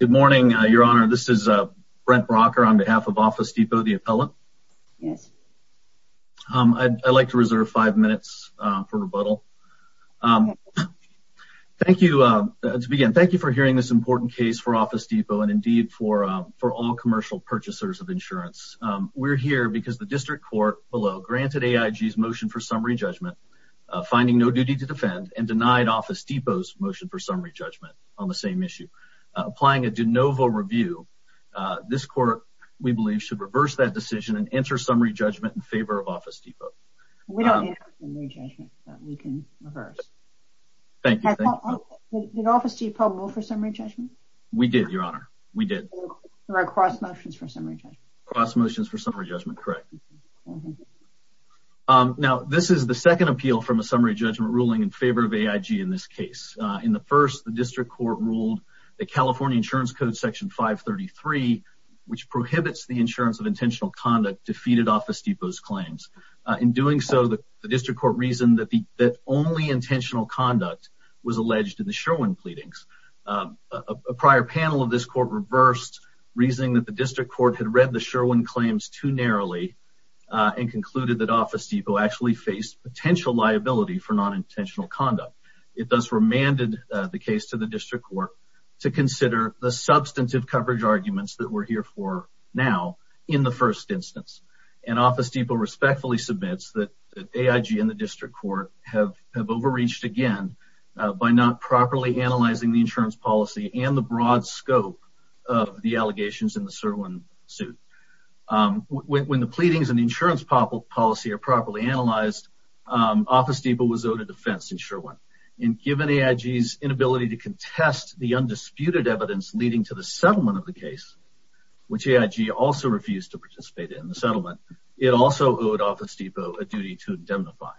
Good morning, Your Honor. This is Brent Brocker on behalf of Office Depot, the appellant. Yes. I'd like to reserve five minutes for rebuttal. Thank you. To begin, thank you for hearing this important case for Office Depot and, indeed, for all commercial purchasers of insurance. We're here because the district court below granted AIG's motion for summary judgment, finding no duty to defend, and denied Office Depot's motion for summary judgment on the same issue. Applying a de novo review, this court, we believe, should reverse that decision and enter summary judgment in favor of Office Depot. We don't have summary judgment that we can reverse. Thank you. Did Office Depot move for summary judgment? We did, Your Honor. We did. There are cross motions for summary judgment. Cross motions for summary judgment, correct. Now, this is the second appeal from a summary judgment ruling in favor of AIG in this case. In the first, the district court ruled that California Insurance Code Section 533, which prohibits the insurance of intentional conduct, defeated Office Depot's claims. In doing so, the district court reasoned that only intentional conduct was alleged in the Sherwin pleadings. A prior panel of this court reversed, reasoning that the district court had read the Sherwin claims too narrowly and concluded that Office Depot actually faced potential liability for non-intentional conduct. It thus remanded the case to the district court to consider the substantive coverage arguments that we're here for now in the first instance. Office Depot respectfully submits that AIG and the district court have overreached again by not properly analyzing the insurance policy and the broad scope of the allegations in the Sherwin suit. When the pleadings and the insurance policy are properly analyzed, Office Depot was owed a defense in Sherwin. Given AIG's inability to contest the undisputed evidence leading to the settlement of the case, which AIG also refused to participate in the settlement, it also owed Office Depot a duty to indemnify.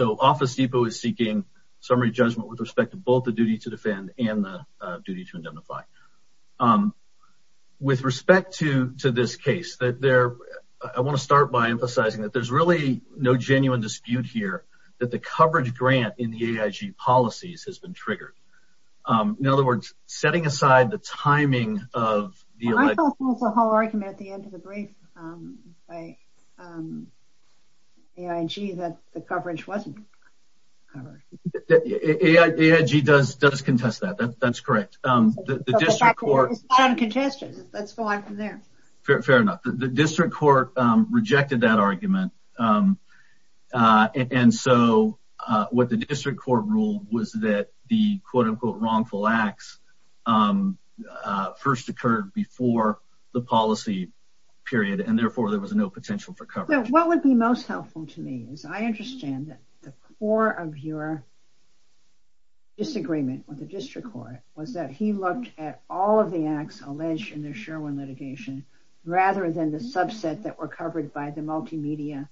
Office Depot is seeking summary judgment with respect to both the duty to defend and the duty to indemnify. With respect to this case, I want to start by emphasizing that there's really no genuine dispute here that the coverage grant in the AIG policies has been triggered. In other words, setting aside the timing of the alleged... I thought there was a whole argument at the end of the brief by AIG that the coverage wasn't covered. AIG does contest that. That's correct. It's not uncontested. Let's go on from there. Fair enough. The district court rejected that argument. And so what the district court ruled was that the quote unquote wrongful acts first occurred before the policy period, and therefore there was no potential for coverage. What would be most helpful to me is I understand that the core of your disagreement with the district court was that he looked at all of the acts alleged in the Sherwin litigation rather than the subset that were covered by the multimedia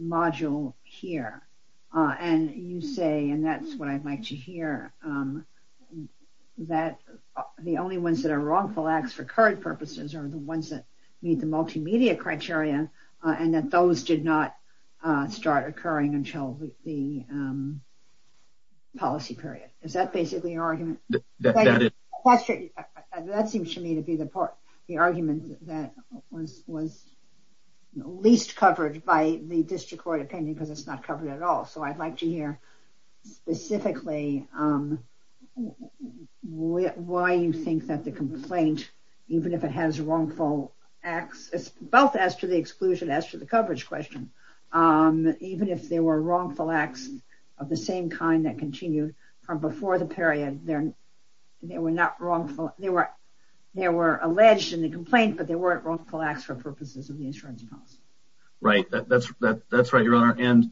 module here. And you say, and that's what I'd like to hear, that the only ones that are wrongful acts for current purposes are the ones that meet the multimedia criteria and that those did not start occurring until the policy period. Is that basically your argument? That seems to me to be the argument that was least covered by the district court opinion because it's not covered at all. So I'd like to hear specifically why you think that the complaint, even if it has wrongful acts, both as to the exclusion as to the coverage question, even if they were wrongful acts of the same kind that continued from before the period, they were not wrongful. They were they were alleged in the complaint, but they weren't wrongful acts for purposes of the insurance policy. Right. That's that's right, Your Honor. And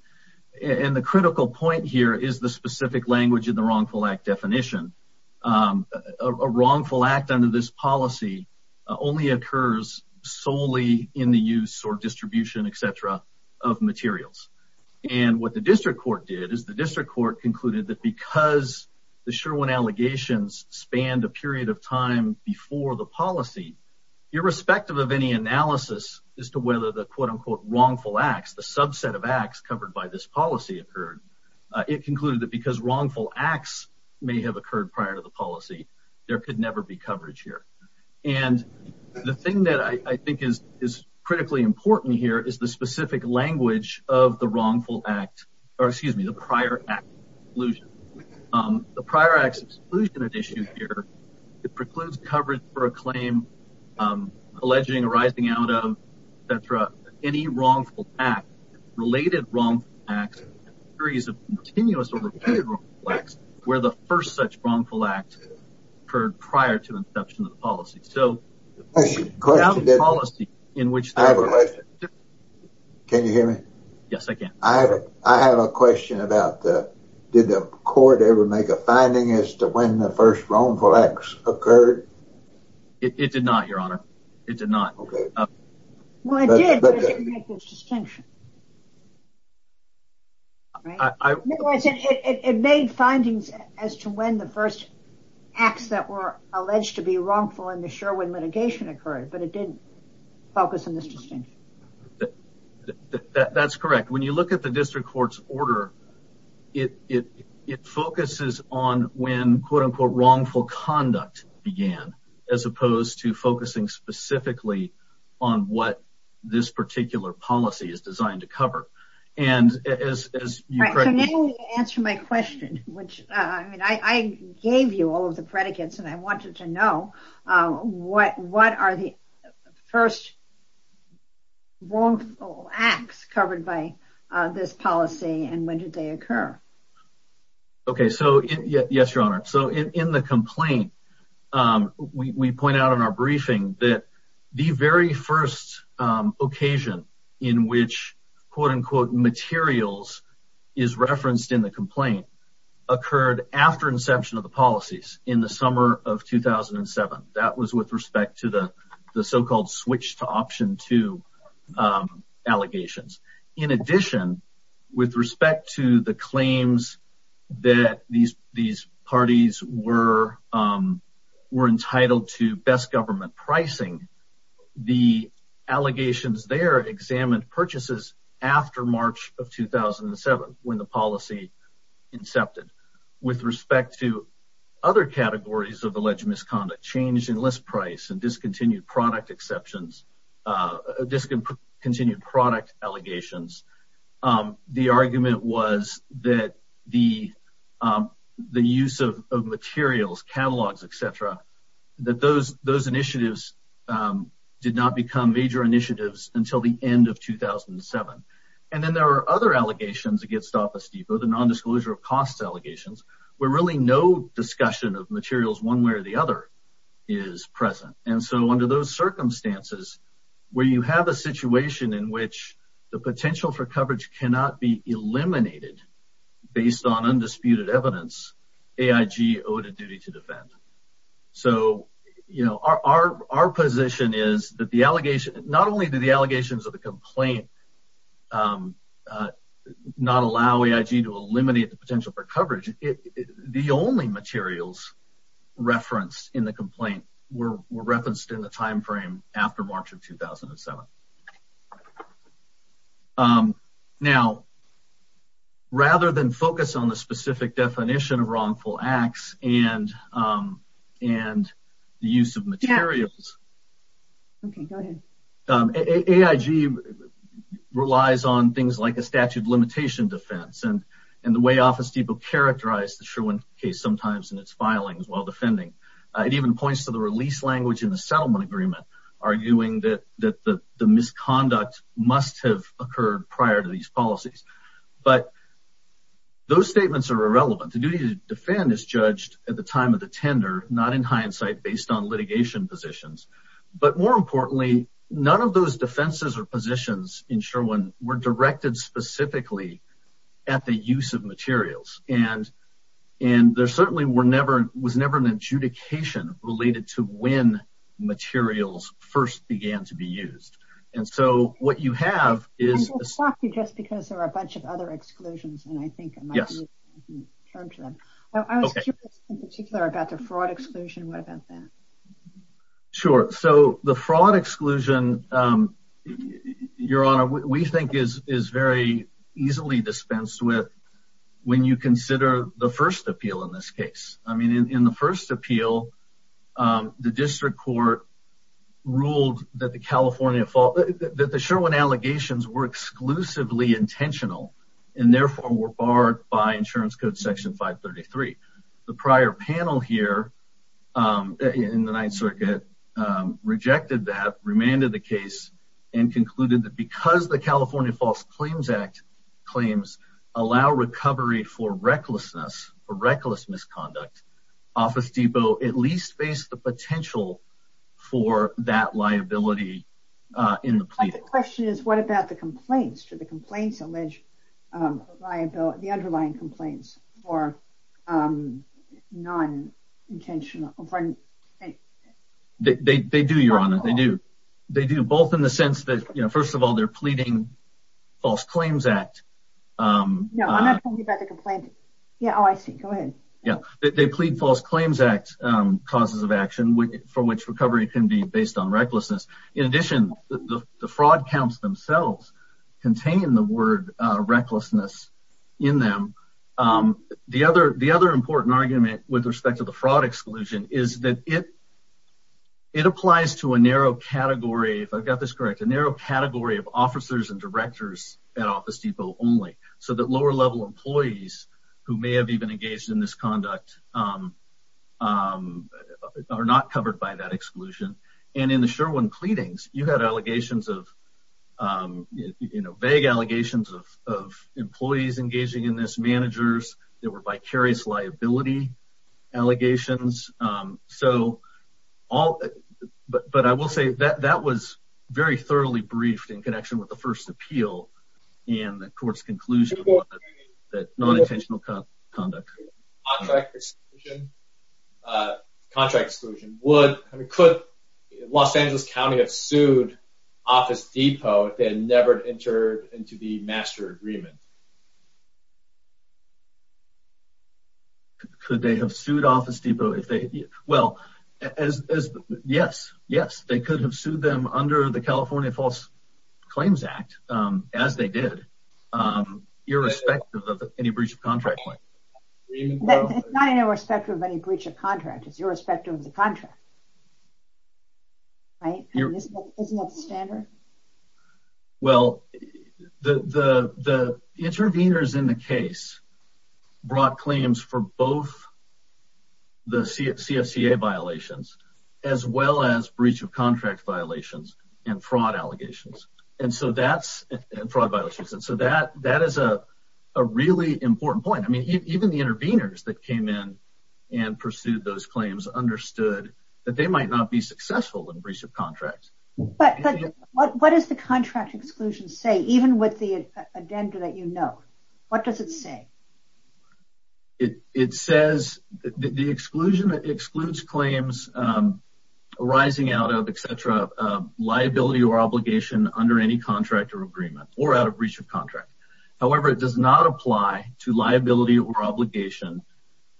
and the critical point here is the specific language in the wrongful act definition. A wrongful act under this policy only occurs solely in the use or distribution, et cetera, of materials. And what the district court did is the district court concluded that because the Sherwin allegations spanned a period of time before the policy, irrespective of any analysis as to whether the quote unquote wrongful acts, the subset of acts covered by this policy occurred. It concluded that because wrongful acts may have occurred prior to the policy, there could never be coverage here. And the thing that I think is is critically important here is the specific language of the wrongful act or excuse me, the prior exclusion. The prior acts exclusion issue here precludes coverage for a claim alleging arising out of that for any wrongful act related wrong acts. There is a continuous or repeated where the first such wrongful act occurred prior to inception of the policy. So policy in which I have a question. Can you hear me? Yes, I can. I have a I have a question about that. Did the court ever make a finding as to when the first wrongful acts occurred? It did not, Your Honor. It did not. Well, I did make this distinction. I said it made findings as to when the first acts that were alleged to be wrongful in the Sherwin litigation occurred, but it didn't focus on this distinction. That's correct. When you look at the district court's order, it focuses on when quote unquote wrongful conduct began as opposed to focusing specifically on what this particular policy is designed to cover. And as you correctly answer my question, which I gave you all of the predicates and I wanted to know what what are the first wrongful acts covered by this policy and when did they occur? OK, so yes, Your Honor. So in the complaint, we point out in our briefing that the very first occasion in which quote unquote materials is referenced in the complaint occurred after inception of the policies in the summer of 2007. That was with respect to the the so-called switch to option to allegations. In addition, with respect to the claims that these these parties were were entitled to best government pricing, the allegations there examined purchases after March of 2007 when the policy incepted. With respect to other categories of alleged misconduct, change in list price and discontinued product exceptions, discontinued product allegations, the argument was that the the use of materials, catalogs, etc., that those those initiatives did not become major initiatives until the end of 2007. And then there are other allegations against Office Depot, the nondisclosure of costs allegations where really no discussion of materials one way or the other is present. And so under those circumstances where you have a situation in which the potential for coverage cannot be eliminated based on undisputed evidence, AIG owed a duty to defend. So, you know, our our our position is that the allegation not only do the allegations of the complaint not allow AIG to eliminate the potential for coverage, the only materials referenced in the complaint were referenced in the timeframe after March of 2007. Now, rather than focus on the specific definition of wrongful acts and and the use of materials, AIG relies on things like a statute of limitation defense and and the way Office Depot characterized the Sherwin case sometimes in its filings while defending. It even points to the release language in the settlement agreement, arguing that that the misconduct must have occurred prior to these policies. But those statements are irrelevant. The duty to defend is judged at the time of the tender, not in hindsight, based on litigation positions. But more importantly, none of those defenses or positions in Sherwin were directed specifically at the use of materials and and there certainly were never was never an adjudication related to when materials first began to be used. And so what you have is just because there are a bunch of other exclusions. And I think, yes, I was in particular about the fraud exclusion. What about that? Sure. So the fraud exclusion, Your Honor, we think is is very easily dispensed with when you consider the first appeal in this case. I mean, in the first appeal, the district court ruled that the California that the Sherwin allegations were exclusively intentional and therefore were barred by insurance code section 533. The prior panel here in the Ninth Circuit rejected that, remanded the case and concluded that because the California False Claims Act claims allow recovery for recklessness or reckless misconduct, Office Depot at least face the potential for that liability in the plea. The question is, what about the complaints to the complaints alleged liability, the underlying complaints or non-intentional? They do, Your Honor. They do. They do both in the sense that, you know, first of all, they're pleading False Claims Act. No, I'm not talking about the complaint. Yeah. Oh, I see. Go ahead. Yeah, they plead False Claims Act causes of action for which recovery can be based on recklessness. In addition, the fraud counts themselves contain the word recklessness in them. The other the other important argument with respect to the fraud exclusion is that it it applies to a narrow category. If I've got this correct, a narrow category of officers and directors at Office Depot only so that lower level employees who may have even engaged in this conduct are not covered by that exclusion. And in the Sherwin pleadings, you had allegations of, you know, vague allegations of employees engaging in this managers. There were vicarious liability allegations. So all. But I will say that that was very thoroughly briefed in connection with the first appeal and the court's conclusion that non-intentional conduct. Contract exclusion. Contract exclusion. Would could Los Angeles County have sued Office Depot if they had never entered into the master agreement? Could they have sued Office Depot if they. Well, as. Yes. Yes. They could have sued them under the California False Claims Act, as they did, irrespective of any breach of contract. It's not irrespective of any breach of contract. It's irrespective of the contract. Right. Isn't that standard? Well, the the the intervenors in the case brought claims for both. The CFC violations, as well as breach of contract violations and fraud allegations. And so that's fraud violations. And so that that is a really important point. I mean, even the intervenors that came in and pursued those claims understood that they might not be successful in breach of contract. But what does the contract exclusion say, even with the agenda that, you know, what does it say? It says the exclusion excludes claims arising out of etc. Liability or obligation under any contract or agreement or out of breach of contract. However, it does not apply to liability or obligation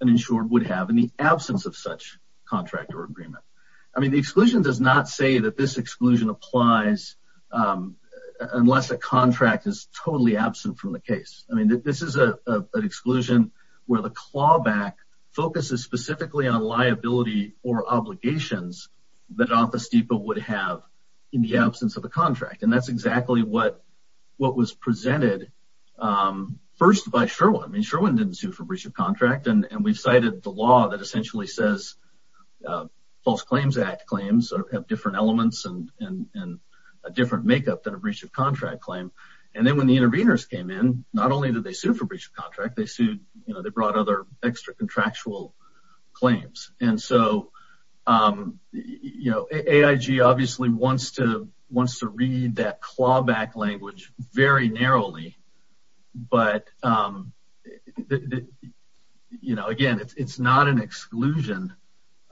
an insured would have in the absence of such contract or agreement. I mean, the exclusion does not say that this exclusion applies unless a contract is totally absent from the case. I mean, this is an exclusion where the clawback focuses specifically on liability or obligations that Office Depot would have in the absence of a contract. And that's exactly what what was presented first by Sherwin. I mean, Sherwin didn't sue for breach of contract. And we've cited the law that essentially says false claims act claims have different elements and a different makeup than a breach of contract claim. And then when the intervenors came in, not only did they sue for breach of contract, they sued. They brought other extra contractual claims. And so, you know, AIG obviously wants to wants to read that clawback language very narrowly. But, you know, again, it's not an exclusion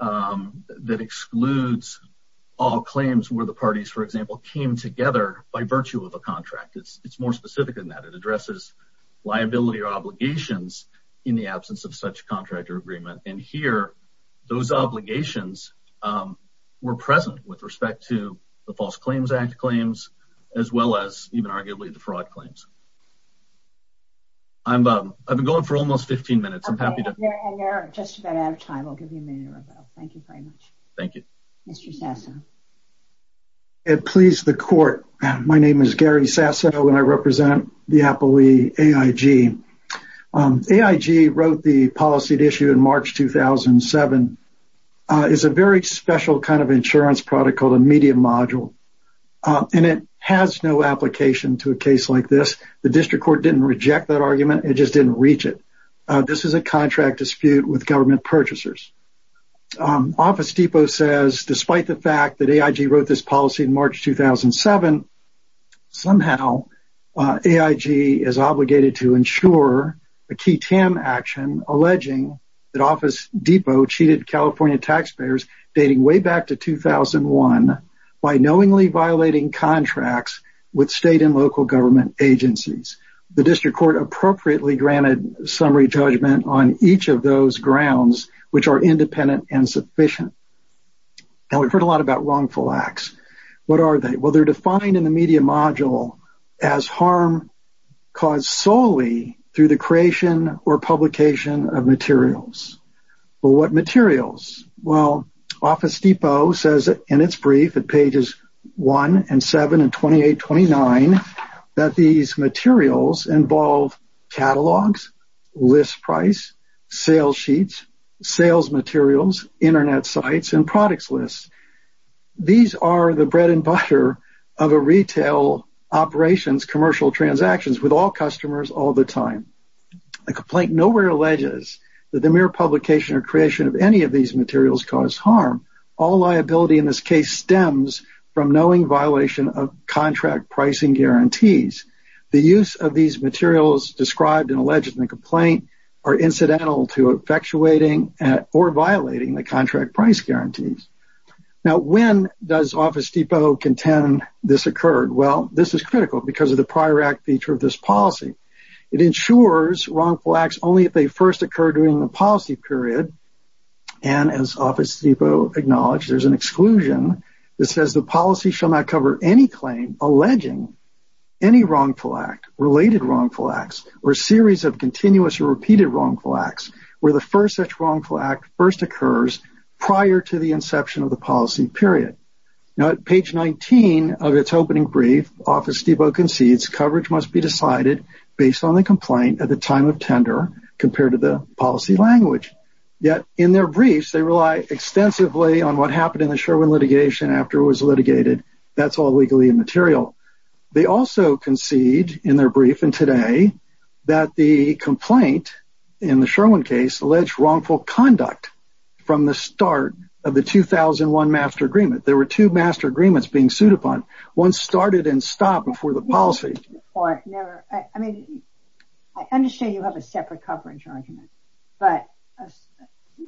that excludes all claims where the parties, for example, came together by virtue of a contract. It's more specific than that. It addresses liability or obligations in the absence of such contract or agreement. And here, those obligations were present with respect to the False Claims Act claims, as well as even arguably the fraud claims. I'm I've been going for almost 15 minutes. I'm happy to just about out of time. I'll give you a minute or so. Thank you very much. Thank you, Mr. Sasson. It pleased the court. My name is Gary Sasson and I represent the Apogee AIG. AIG wrote the policy issue in March 2007 is a very special kind of insurance product called a medium module. And it has no application to a case like this. The district court didn't reject that argument. It just didn't reach it. This is a contract dispute with government purchasers. Office Depot says, despite the fact that AIG wrote this policy in March 2007, somehow AIG is obligated to ensure a key tam action alleging that Office Depot cheated California taxpayers dating way back to 2001 by knowingly violating contracts with state and local government agencies. The district court appropriately granted summary judgment on each of those grounds, which are independent and sufficient. And we've heard a lot about wrongful acts. What are they? Well, they're defined in the media module as harm caused solely through the creation or publication of materials. Well, what materials? Well, Office Depot says in its brief at pages 1 and 7 and 28, 29, that these materials involve catalogs, list price, sales sheets, sales materials, internet sites, and products lists. These are the bread and butter of a retail operations commercial transactions with all customers all the time. The complaint nowhere alleges that the mere publication or creation of any of these materials cause harm. All liability in this case stems from knowing violation of contract pricing guarantees. The use of these materials described and alleged in the complaint are incidental to effectuating or violating the contract price guarantees. Now, when does Office Depot contend this occurred? Well, this is critical because of the prior act feature of this policy. It ensures wrongful acts only if they first occur during the policy period. And as Office Depot acknowledged, there's an exclusion that says the policy shall not cover any claim alleging any wrongful act, related wrongful acts, or series of continuous or repeated wrongful acts where the first such wrongful act first occurs prior to the inception of the policy period. Now, at page 19 of its opening brief, Office Depot concedes coverage must be decided based on the complaint at the time of tender compared to the policy language. Yet, in their briefs, they rely extensively on what happened in the Sherwin litigation after it was litigated. That's all legally immaterial. They also concede in their brief and today that the complaint in the Sherwin case alleged wrongful conduct from the start of the 2001 master agreement. There were two master agreements being sued upon. One started and stopped before the policy. I understand you have a separate coverage argument, but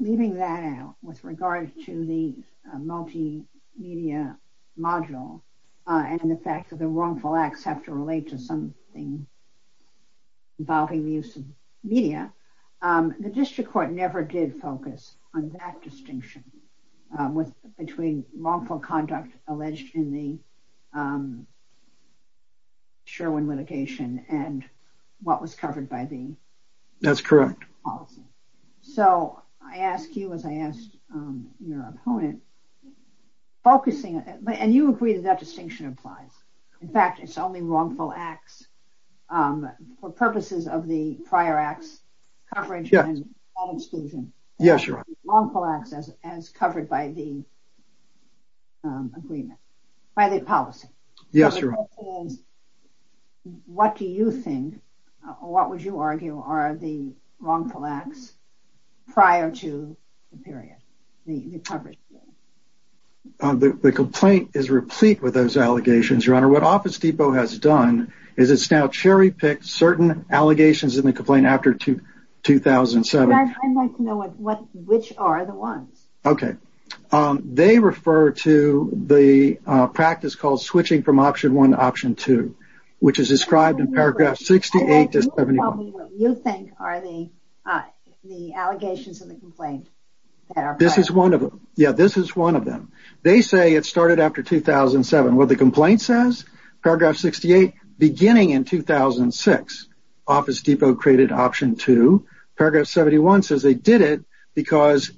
leaving that out with regard to the multimedia module and the fact that the wrongful acts have to relate to something involving the use of media, the district court never did focus on that distinction between wrongful conduct alleged in the Sherwin litigation and what was covered by the policy. That's correct. So, I ask you, as I asked your opponent, focusing, and you agree that that distinction applies. In fact, it's only wrongful acts for purposes of the prior acts coverage and exclusion. Yes, you're right. Wrongful acts as covered by the agreement, by the policy. Yes, you're right. What do you think, what would you argue are the wrongful acts prior to the period, the coverage period? The complaint is replete with those allegations, Your Honor. What Office Depot has done is it's now cherry-picked certain allegations in the complaint after 2007. I'd like to know which are the ones. Okay. They refer to the practice called switching from Option 1 to Option 2, which is described in Paragraph 68 to 71. Tell me what you think are the allegations in the complaint. This is one of them. They say it started after 2007. What the complaint says, Paragraph 68, beginning in 2006, Office Depot created Option 2. Paragraph 71 says they did it because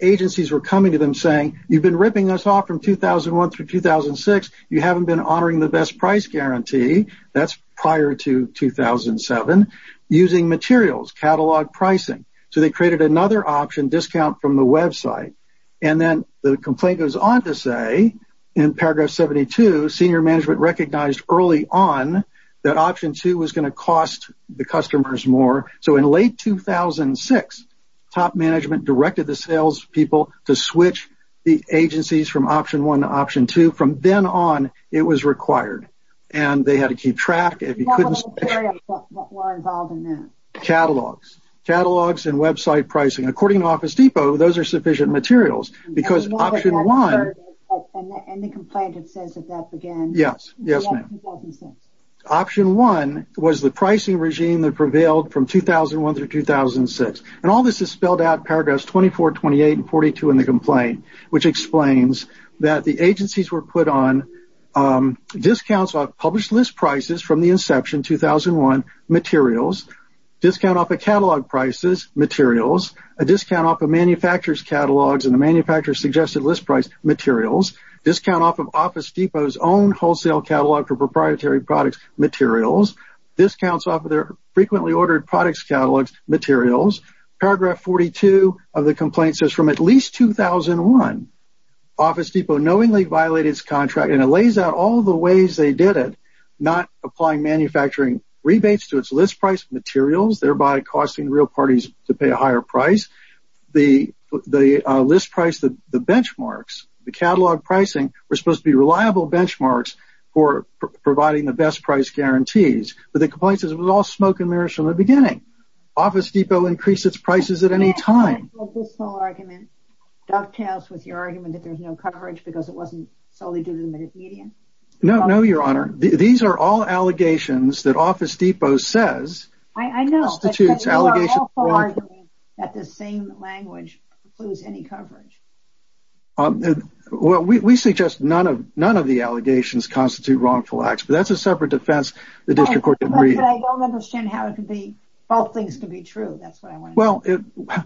agencies were coming to them saying, you've been ripping us off from 2001 through 2006. You haven't been honoring the best price guarantee. That's prior to 2007. Using materials, catalog pricing. So they created another option, discount from the website. And then the complaint goes on to say in Paragraph 72, Senior Management recognized early on that Option 2 was going to cost the customers more. So in late 2006, Top Management directed the sales people to switch the agencies from Option 1 to Option 2. From then on, it was required. And they had to keep track. What were involved in that? Catalogs. Catalogs and website pricing. According to Office Depot, those are sufficient materials. And the complaint says that that began in 2006. Option 1 was the pricing regime that prevailed from 2001 through 2006. And all this is spelled out in Paragraphs 24, 28, and 42 in the complaint, which explains that the agencies were put on discounts on published list prices from the inception, 2001, materials. Discount off of catalog prices, materials. A discount off of manufacturer's catalogs and the manufacturer's suggested list price, materials. Discount off of Office Depot's own wholesale catalog for proprietary products, materials. Discounts off of their frequently ordered products catalogs, materials. Paragraph 42 of the complaint says from at least 2001, Office Depot knowingly violated its contract. And it lays out all the ways they did it, not applying manufacturing rebates to its list price, materials, thereby costing real parties to pay a higher price. The list price, the benchmarks, the catalog pricing, were supposed to be reliable benchmarks for providing the best price guarantees. But the complaint says it was all smoke and mirrors from the beginning. Office Depot increased its prices at any time. This whole argument dovetails with your argument that there's no coverage because it wasn't solely due to the media. No, no, Your Honor. These are all allegations that Office Depot says. I know. You are also arguing that the same language includes any coverage. Well, we suggest none of the allegations constitute wrongful acts, but that's a separate defense the district court didn't read. But I don't understand how it could be, both things could be true. That's what I want to know. Well,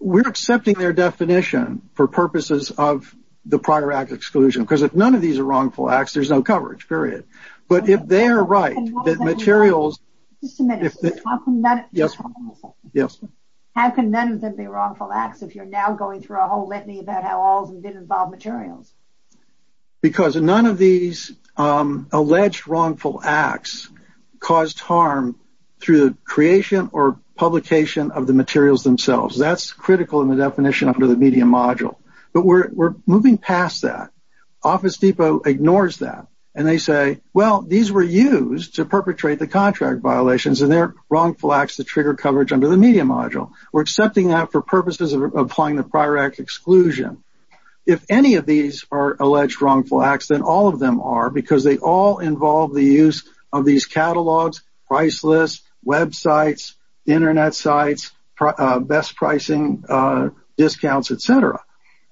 we're accepting their definition for purposes of the prior act exclusion. Because if none of these are wrongful acts, there's no coverage, period. But if they are right, that materials... Just a minute. Yes. How can none of them be wrongful acts if you're now going through a whole litany about how all of them did involve materials? Because none of these alleged wrongful acts caused harm through the creation or publication of the materials themselves. That's critical in the definition under the media module. But we're moving past that. Office Depot ignores that. And they say, well, these were used to perpetrate the contract violations, and they're wrongful acts that trigger coverage under the media module. We're accepting that for purposes of applying the prior act exclusion. If any of these are alleged wrongful acts, then all of them are, because they all involve the use of these catalogs, price lists, websites, Internet sites, best pricing, discounts, etc.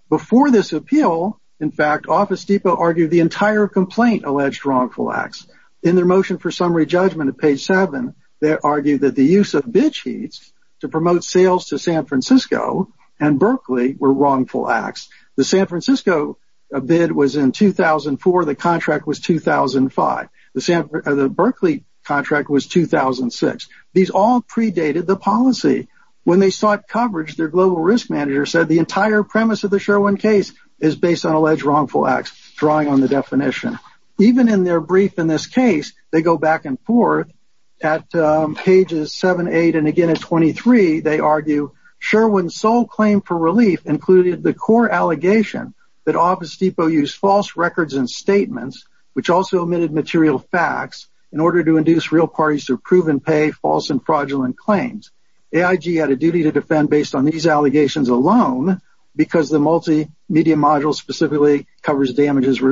Before this appeal, in fact, Office Depot argued the entire complaint alleged wrongful acts. In their motion for summary judgment at page 7, they argued that the use of bid sheets to promote sales to San Francisco and Berkeley were wrongful acts. The San Francisco bid was in 2004. The contract was 2005. The Berkeley contract was 2006. These all predated the policy. When they sought coverage, their global risk manager said the entire premise of the Sherwin case is based on alleged wrongful acts, drawing on the definition. Even in their brief in this case, they go back and forth. At pages 7, 8, and again at 23, they argue Sherwin's sole claim for relief included the core allegation that Office Depot used false records and statements, which also omitted material facts, in order to induce real parties to approve and pay false and fraudulent claims. OIG had a duty to defend based on these allegations alone, because the multimedia module specifically covers damages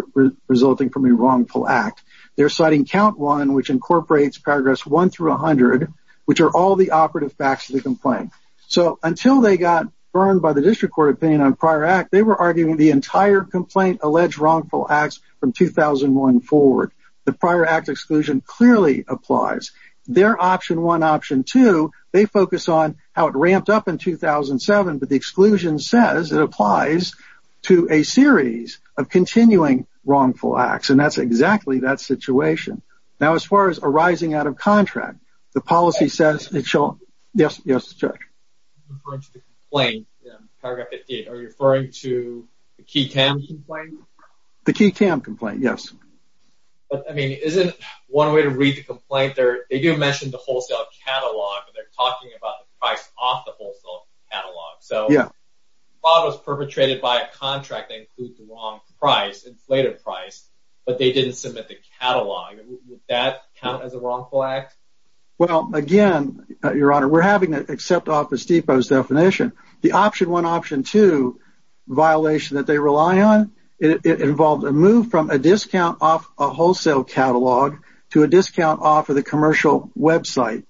resulting from a wrongful act. They're citing count 1, which incorporates paragraphs 1 through 100, which are all the operative facts of the complaint. Until they got burned by the district court opinion on prior act, they were arguing the entire complaint alleged wrongful acts from 2001 forward. The prior act exclusion clearly applies. Their option 1, option 2, they focus on how it ramped up in 2007, but the exclusion says it applies to a series of continuing wrongful acts, and that's exactly that situation. Now, as far as arising out of contract, the policy says it shall... Yes, yes, Chuck. Are you referring to the key cam complaint? The key cam complaint, yes. But, I mean, isn't one way to read the complaint? They do mention the wholesale catalog, but they're talking about the price off the wholesale catalog. Yeah. So, a lot was perpetrated by a contract that included the wrong price, inflated price, but they didn't submit the catalog. Would that count as a wrongful act? Well, again, Your Honor, we're having to accept Office Depot's definition. The option 1, option 2 violation that they rely on, it involved a move from a discount off a wholesale catalog to a discount off of the commercial website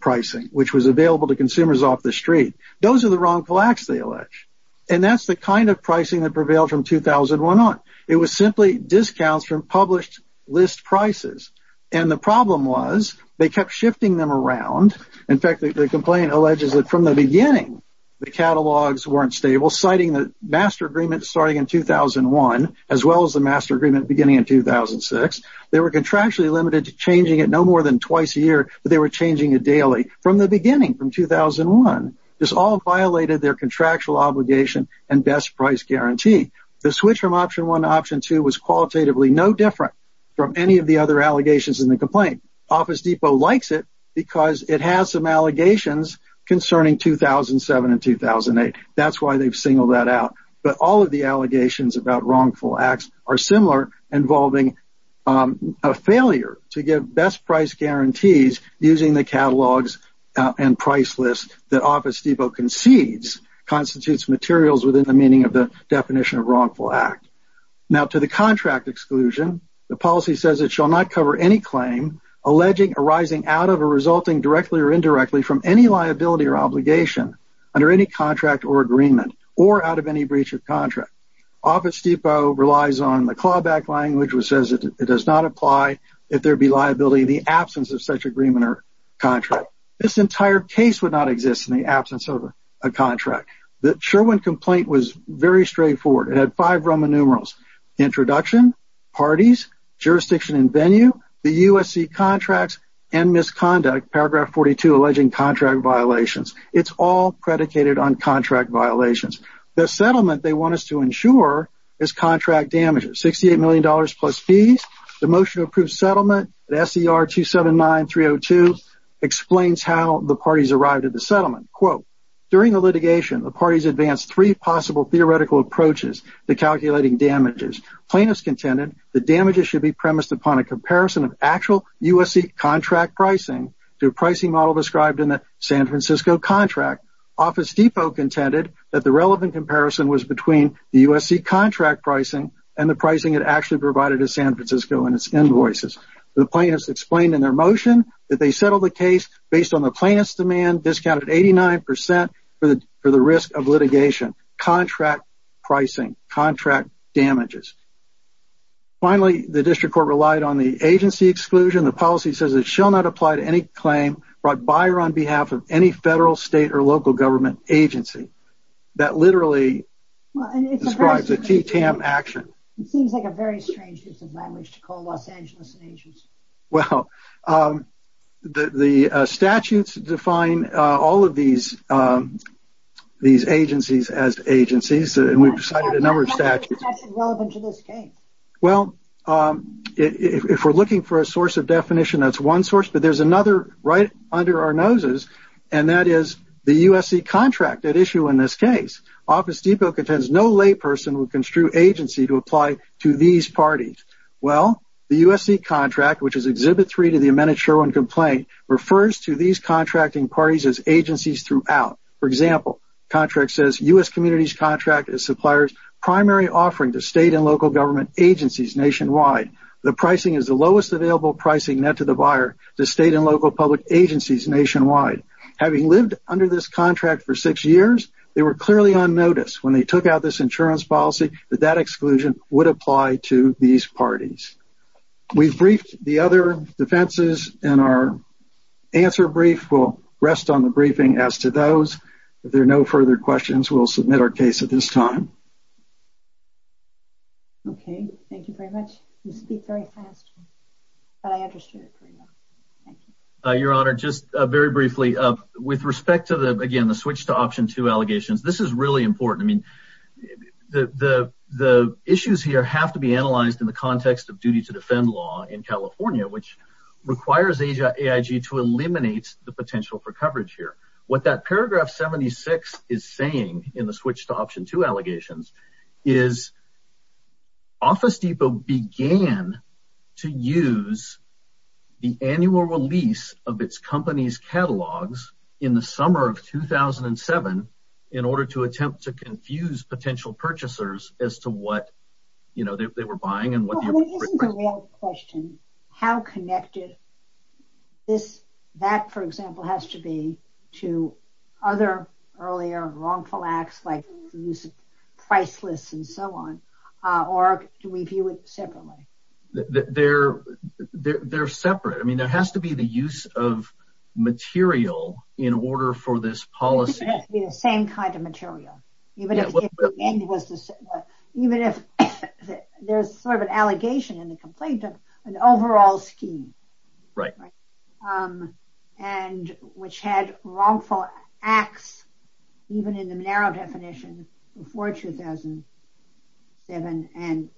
pricing, which was available to consumers off the street. Those are the wrongful acts they allege, and that's the kind of pricing that prevailed from 2001 on. It was simply discounts from published list prices, and the problem was they kept shifting them around. In fact, the complaint alleges that from the beginning, the catalogs weren't stable, citing the master agreement starting in 2001, as well as the master agreement beginning in 2006. They were contractually limited to changing it no more than twice a year, but they were changing it daily from the beginning, from 2001. This all violated their contractual obligation and best price guarantee. The switch from option 1 to option 2 was qualitatively no different from any of the other allegations in the complaint. Office Depot likes it because it has some allegations concerning 2007 and 2008. That's why they've singled that out, but all of the allegations about wrongful acts are similar, involving a failure to give best price guarantees using the catalogs and price list that Office Depot concedes constitutes materials within the meaning of the definition of wrongful act. Now, to the contract exclusion, the policy says it shall not cover any claim alleging arising out of or resulting directly or indirectly from any liability or obligation under any contract or agreement, or out of any breach of contract. Office Depot relies on the clawback language, which says it does not apply if there be liability in the absence of such agreement or contract. This entire case would not exist in the absence of a contract. The Sherwin complaint was very straightforward. It had five Roman numerals. Introduction, parties, jurisdiction and venue, the USC contracts, and misconduct, paragraph 42, alleging contract violations. It's all predicated on contract violations. The settlement they want us to ensure is contract damages, $68 million plus fees. The motion to approve settlement at SER 279302 explains how the parties arrived at the settlement. Quote, during the litigation, the parties advanced three possible theoretical approaches to calculating damages. Plaintiffs contended the damages should be premised upon a comparison of actual USC contract pricing to a pricing model described in the San Francisco contract. Office Depot contended that the relevant comparison was between the USC contract pricing and the pricing it actually provided to San Francisco and its invoices. The plaintiffs explained in their motion that they settled the case based on the plaintiff's demand, discounted 89% for the risk of litigation. Contract pricing, contract damages. Finally, the district court relied on the agency exclusion. The policy says it shall not apply to any claim brought by or on behalf of any federal, state, or local government agency. That literally describes a TTAM action. It seems like a very strange use of language to call Los Angeles an agency. Well, the statutes define all of these agencies as agencies, and we've cited a number of statutes. That's irrelevant to this case. Well, if we're looking for a source of definition, that's one source, but there's another right under our noses, and that is the USC contract at issue in this case. Office Depot contends no layperson would construe agency to apply to these parties. Well, the USC contract, which is Exhibit 3 to the amended Sherwin complaint, refers to these contracting parties as agencies throughout. For example, contract says, U.S. community's contract is supplier's primary offering to state and local government agencies nationwide. The pricing is the lowest available pricing net to the buyer to state and local public agencies nationwide. Having lived under this contract for six years, they were clearly on notice when they took out this insurance policy that that exclusion would apply to these parties. We've briefed the other defenses, and our answer brief will rest on the briefing as to those. If there are no further questions, we'll submit our case at this time. Okay. Thank you very much. You speak very fast, but I understood it pretty well. Thank you. Your Honor, just very briefly, with respect to the, again, the switch to Option 2 allegations, this is really important. The issues here have to be analyzed in the context of duty to defend law in California, which requires AIG to eliminate the potential for coverage here. What that paragraph 76 is saying in the switch to Option 2 allegations is Office Depot began to use the annual release of its company's catalogs in the summer of 2007 in order to attempt to confuse potential purchasers as to what they were buying. This is a real question. How connected this, that, for example, has to be to other earlier wrongful acts like the use of priceless and so on, or do we view it separately? They're separate. I mean, there has to be the use of material in order for this policy. It has to be the same kind of material, even if there's sort of an allegation in the complaint of an overall scheme. Right. Which had wrongful acts, even in the narrow definition, before 2007 and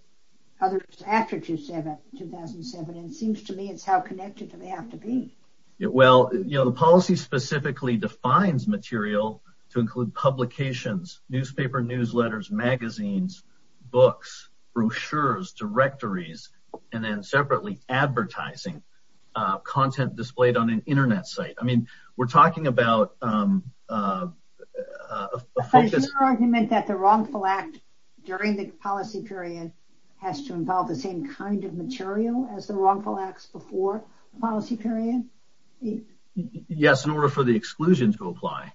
others after 2007. It seems to me it's how connected they have to be. Well, you know, the policy specifically defines material to include publications, newspaper newsletters, magazines, books, brochures, directories, and then separately advertising content displayed on an Internet site. But is your argument that the wrongful act during the policy period has to involve the same kind of material as the wrongful acts before the policy period? Yes, in order for the exclusion to apply.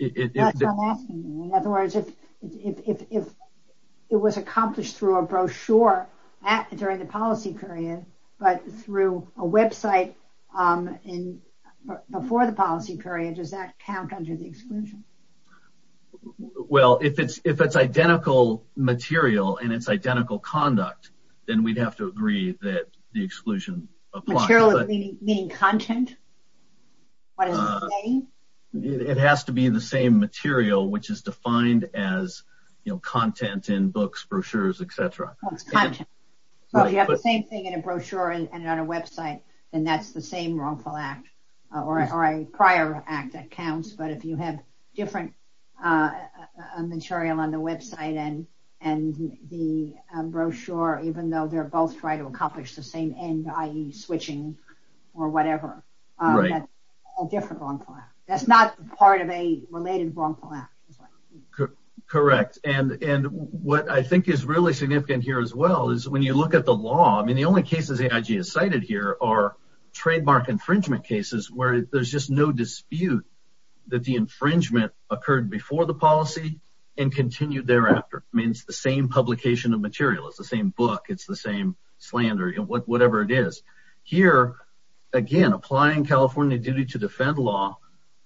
That's what I'm asking you. In other words, if it was accomplished through a brochure during the policy period, but through a website before the policy period, does that count under the exclusion? Well, if it's identical material and it's identical conduct, then we'd have to agree that the exclusion applies. Material meaning content? What does it mean? It has to be the same material, which is defined as content in books, brochures, etc. Well, if you have the same thing in a brochure and on a website, then that's the same wrongful act or a prior act that counts. But if you have different material on the website and the brochure, even though they're both trying to accomplish the same end, i.e. switching or whatever, that's a different wrongful act. That's not part of a related wrongful act. Correct. And what I think is really significant here as well is when you look at the law, I mean, the only cases AIG has cited here are trademark infringement cases where there's just no dispute that the infringement occurred before the policy and continued thereafter. I mean, it's the same publication of material. It's the same book. It's the same slander, whatever it is. Here, again, applying California duty to defend law,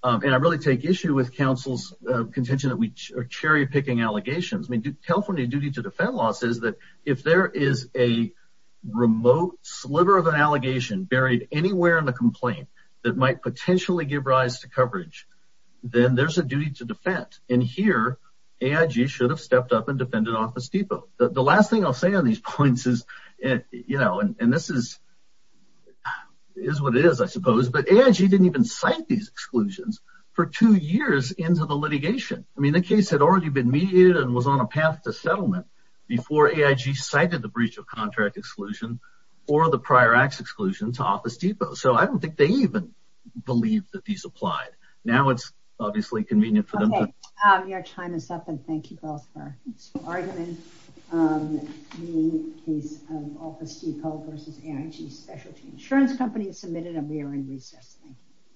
and I really take issue with counsel's contention that we are cherry picking allegations. I mean, California duty to defend law says that if there is a remote sliver of an allegation buried anywhere in the complaint that might potentially give rise to coverage, then there's a duty to defend. And here AIG should have stepped up and defended Office Depot. So the last thing I'll say on these points is, you know, and this is what it is, I suppose, but AIG didn't even cite these exclusions for two years into the litigation. I mean, the case had already been mediated and was on a path to settlement before AIG cited the breach of contract exclusion or the prior acts exclusion to Office Depot. So I don't think they even believe that these applied. Now it's obviously convenient for them. Okay, your time is up and thank you both for arguing the case of Office Depot versus AIG Specialty Insurance Company is submitted and we are in recess. Thank you.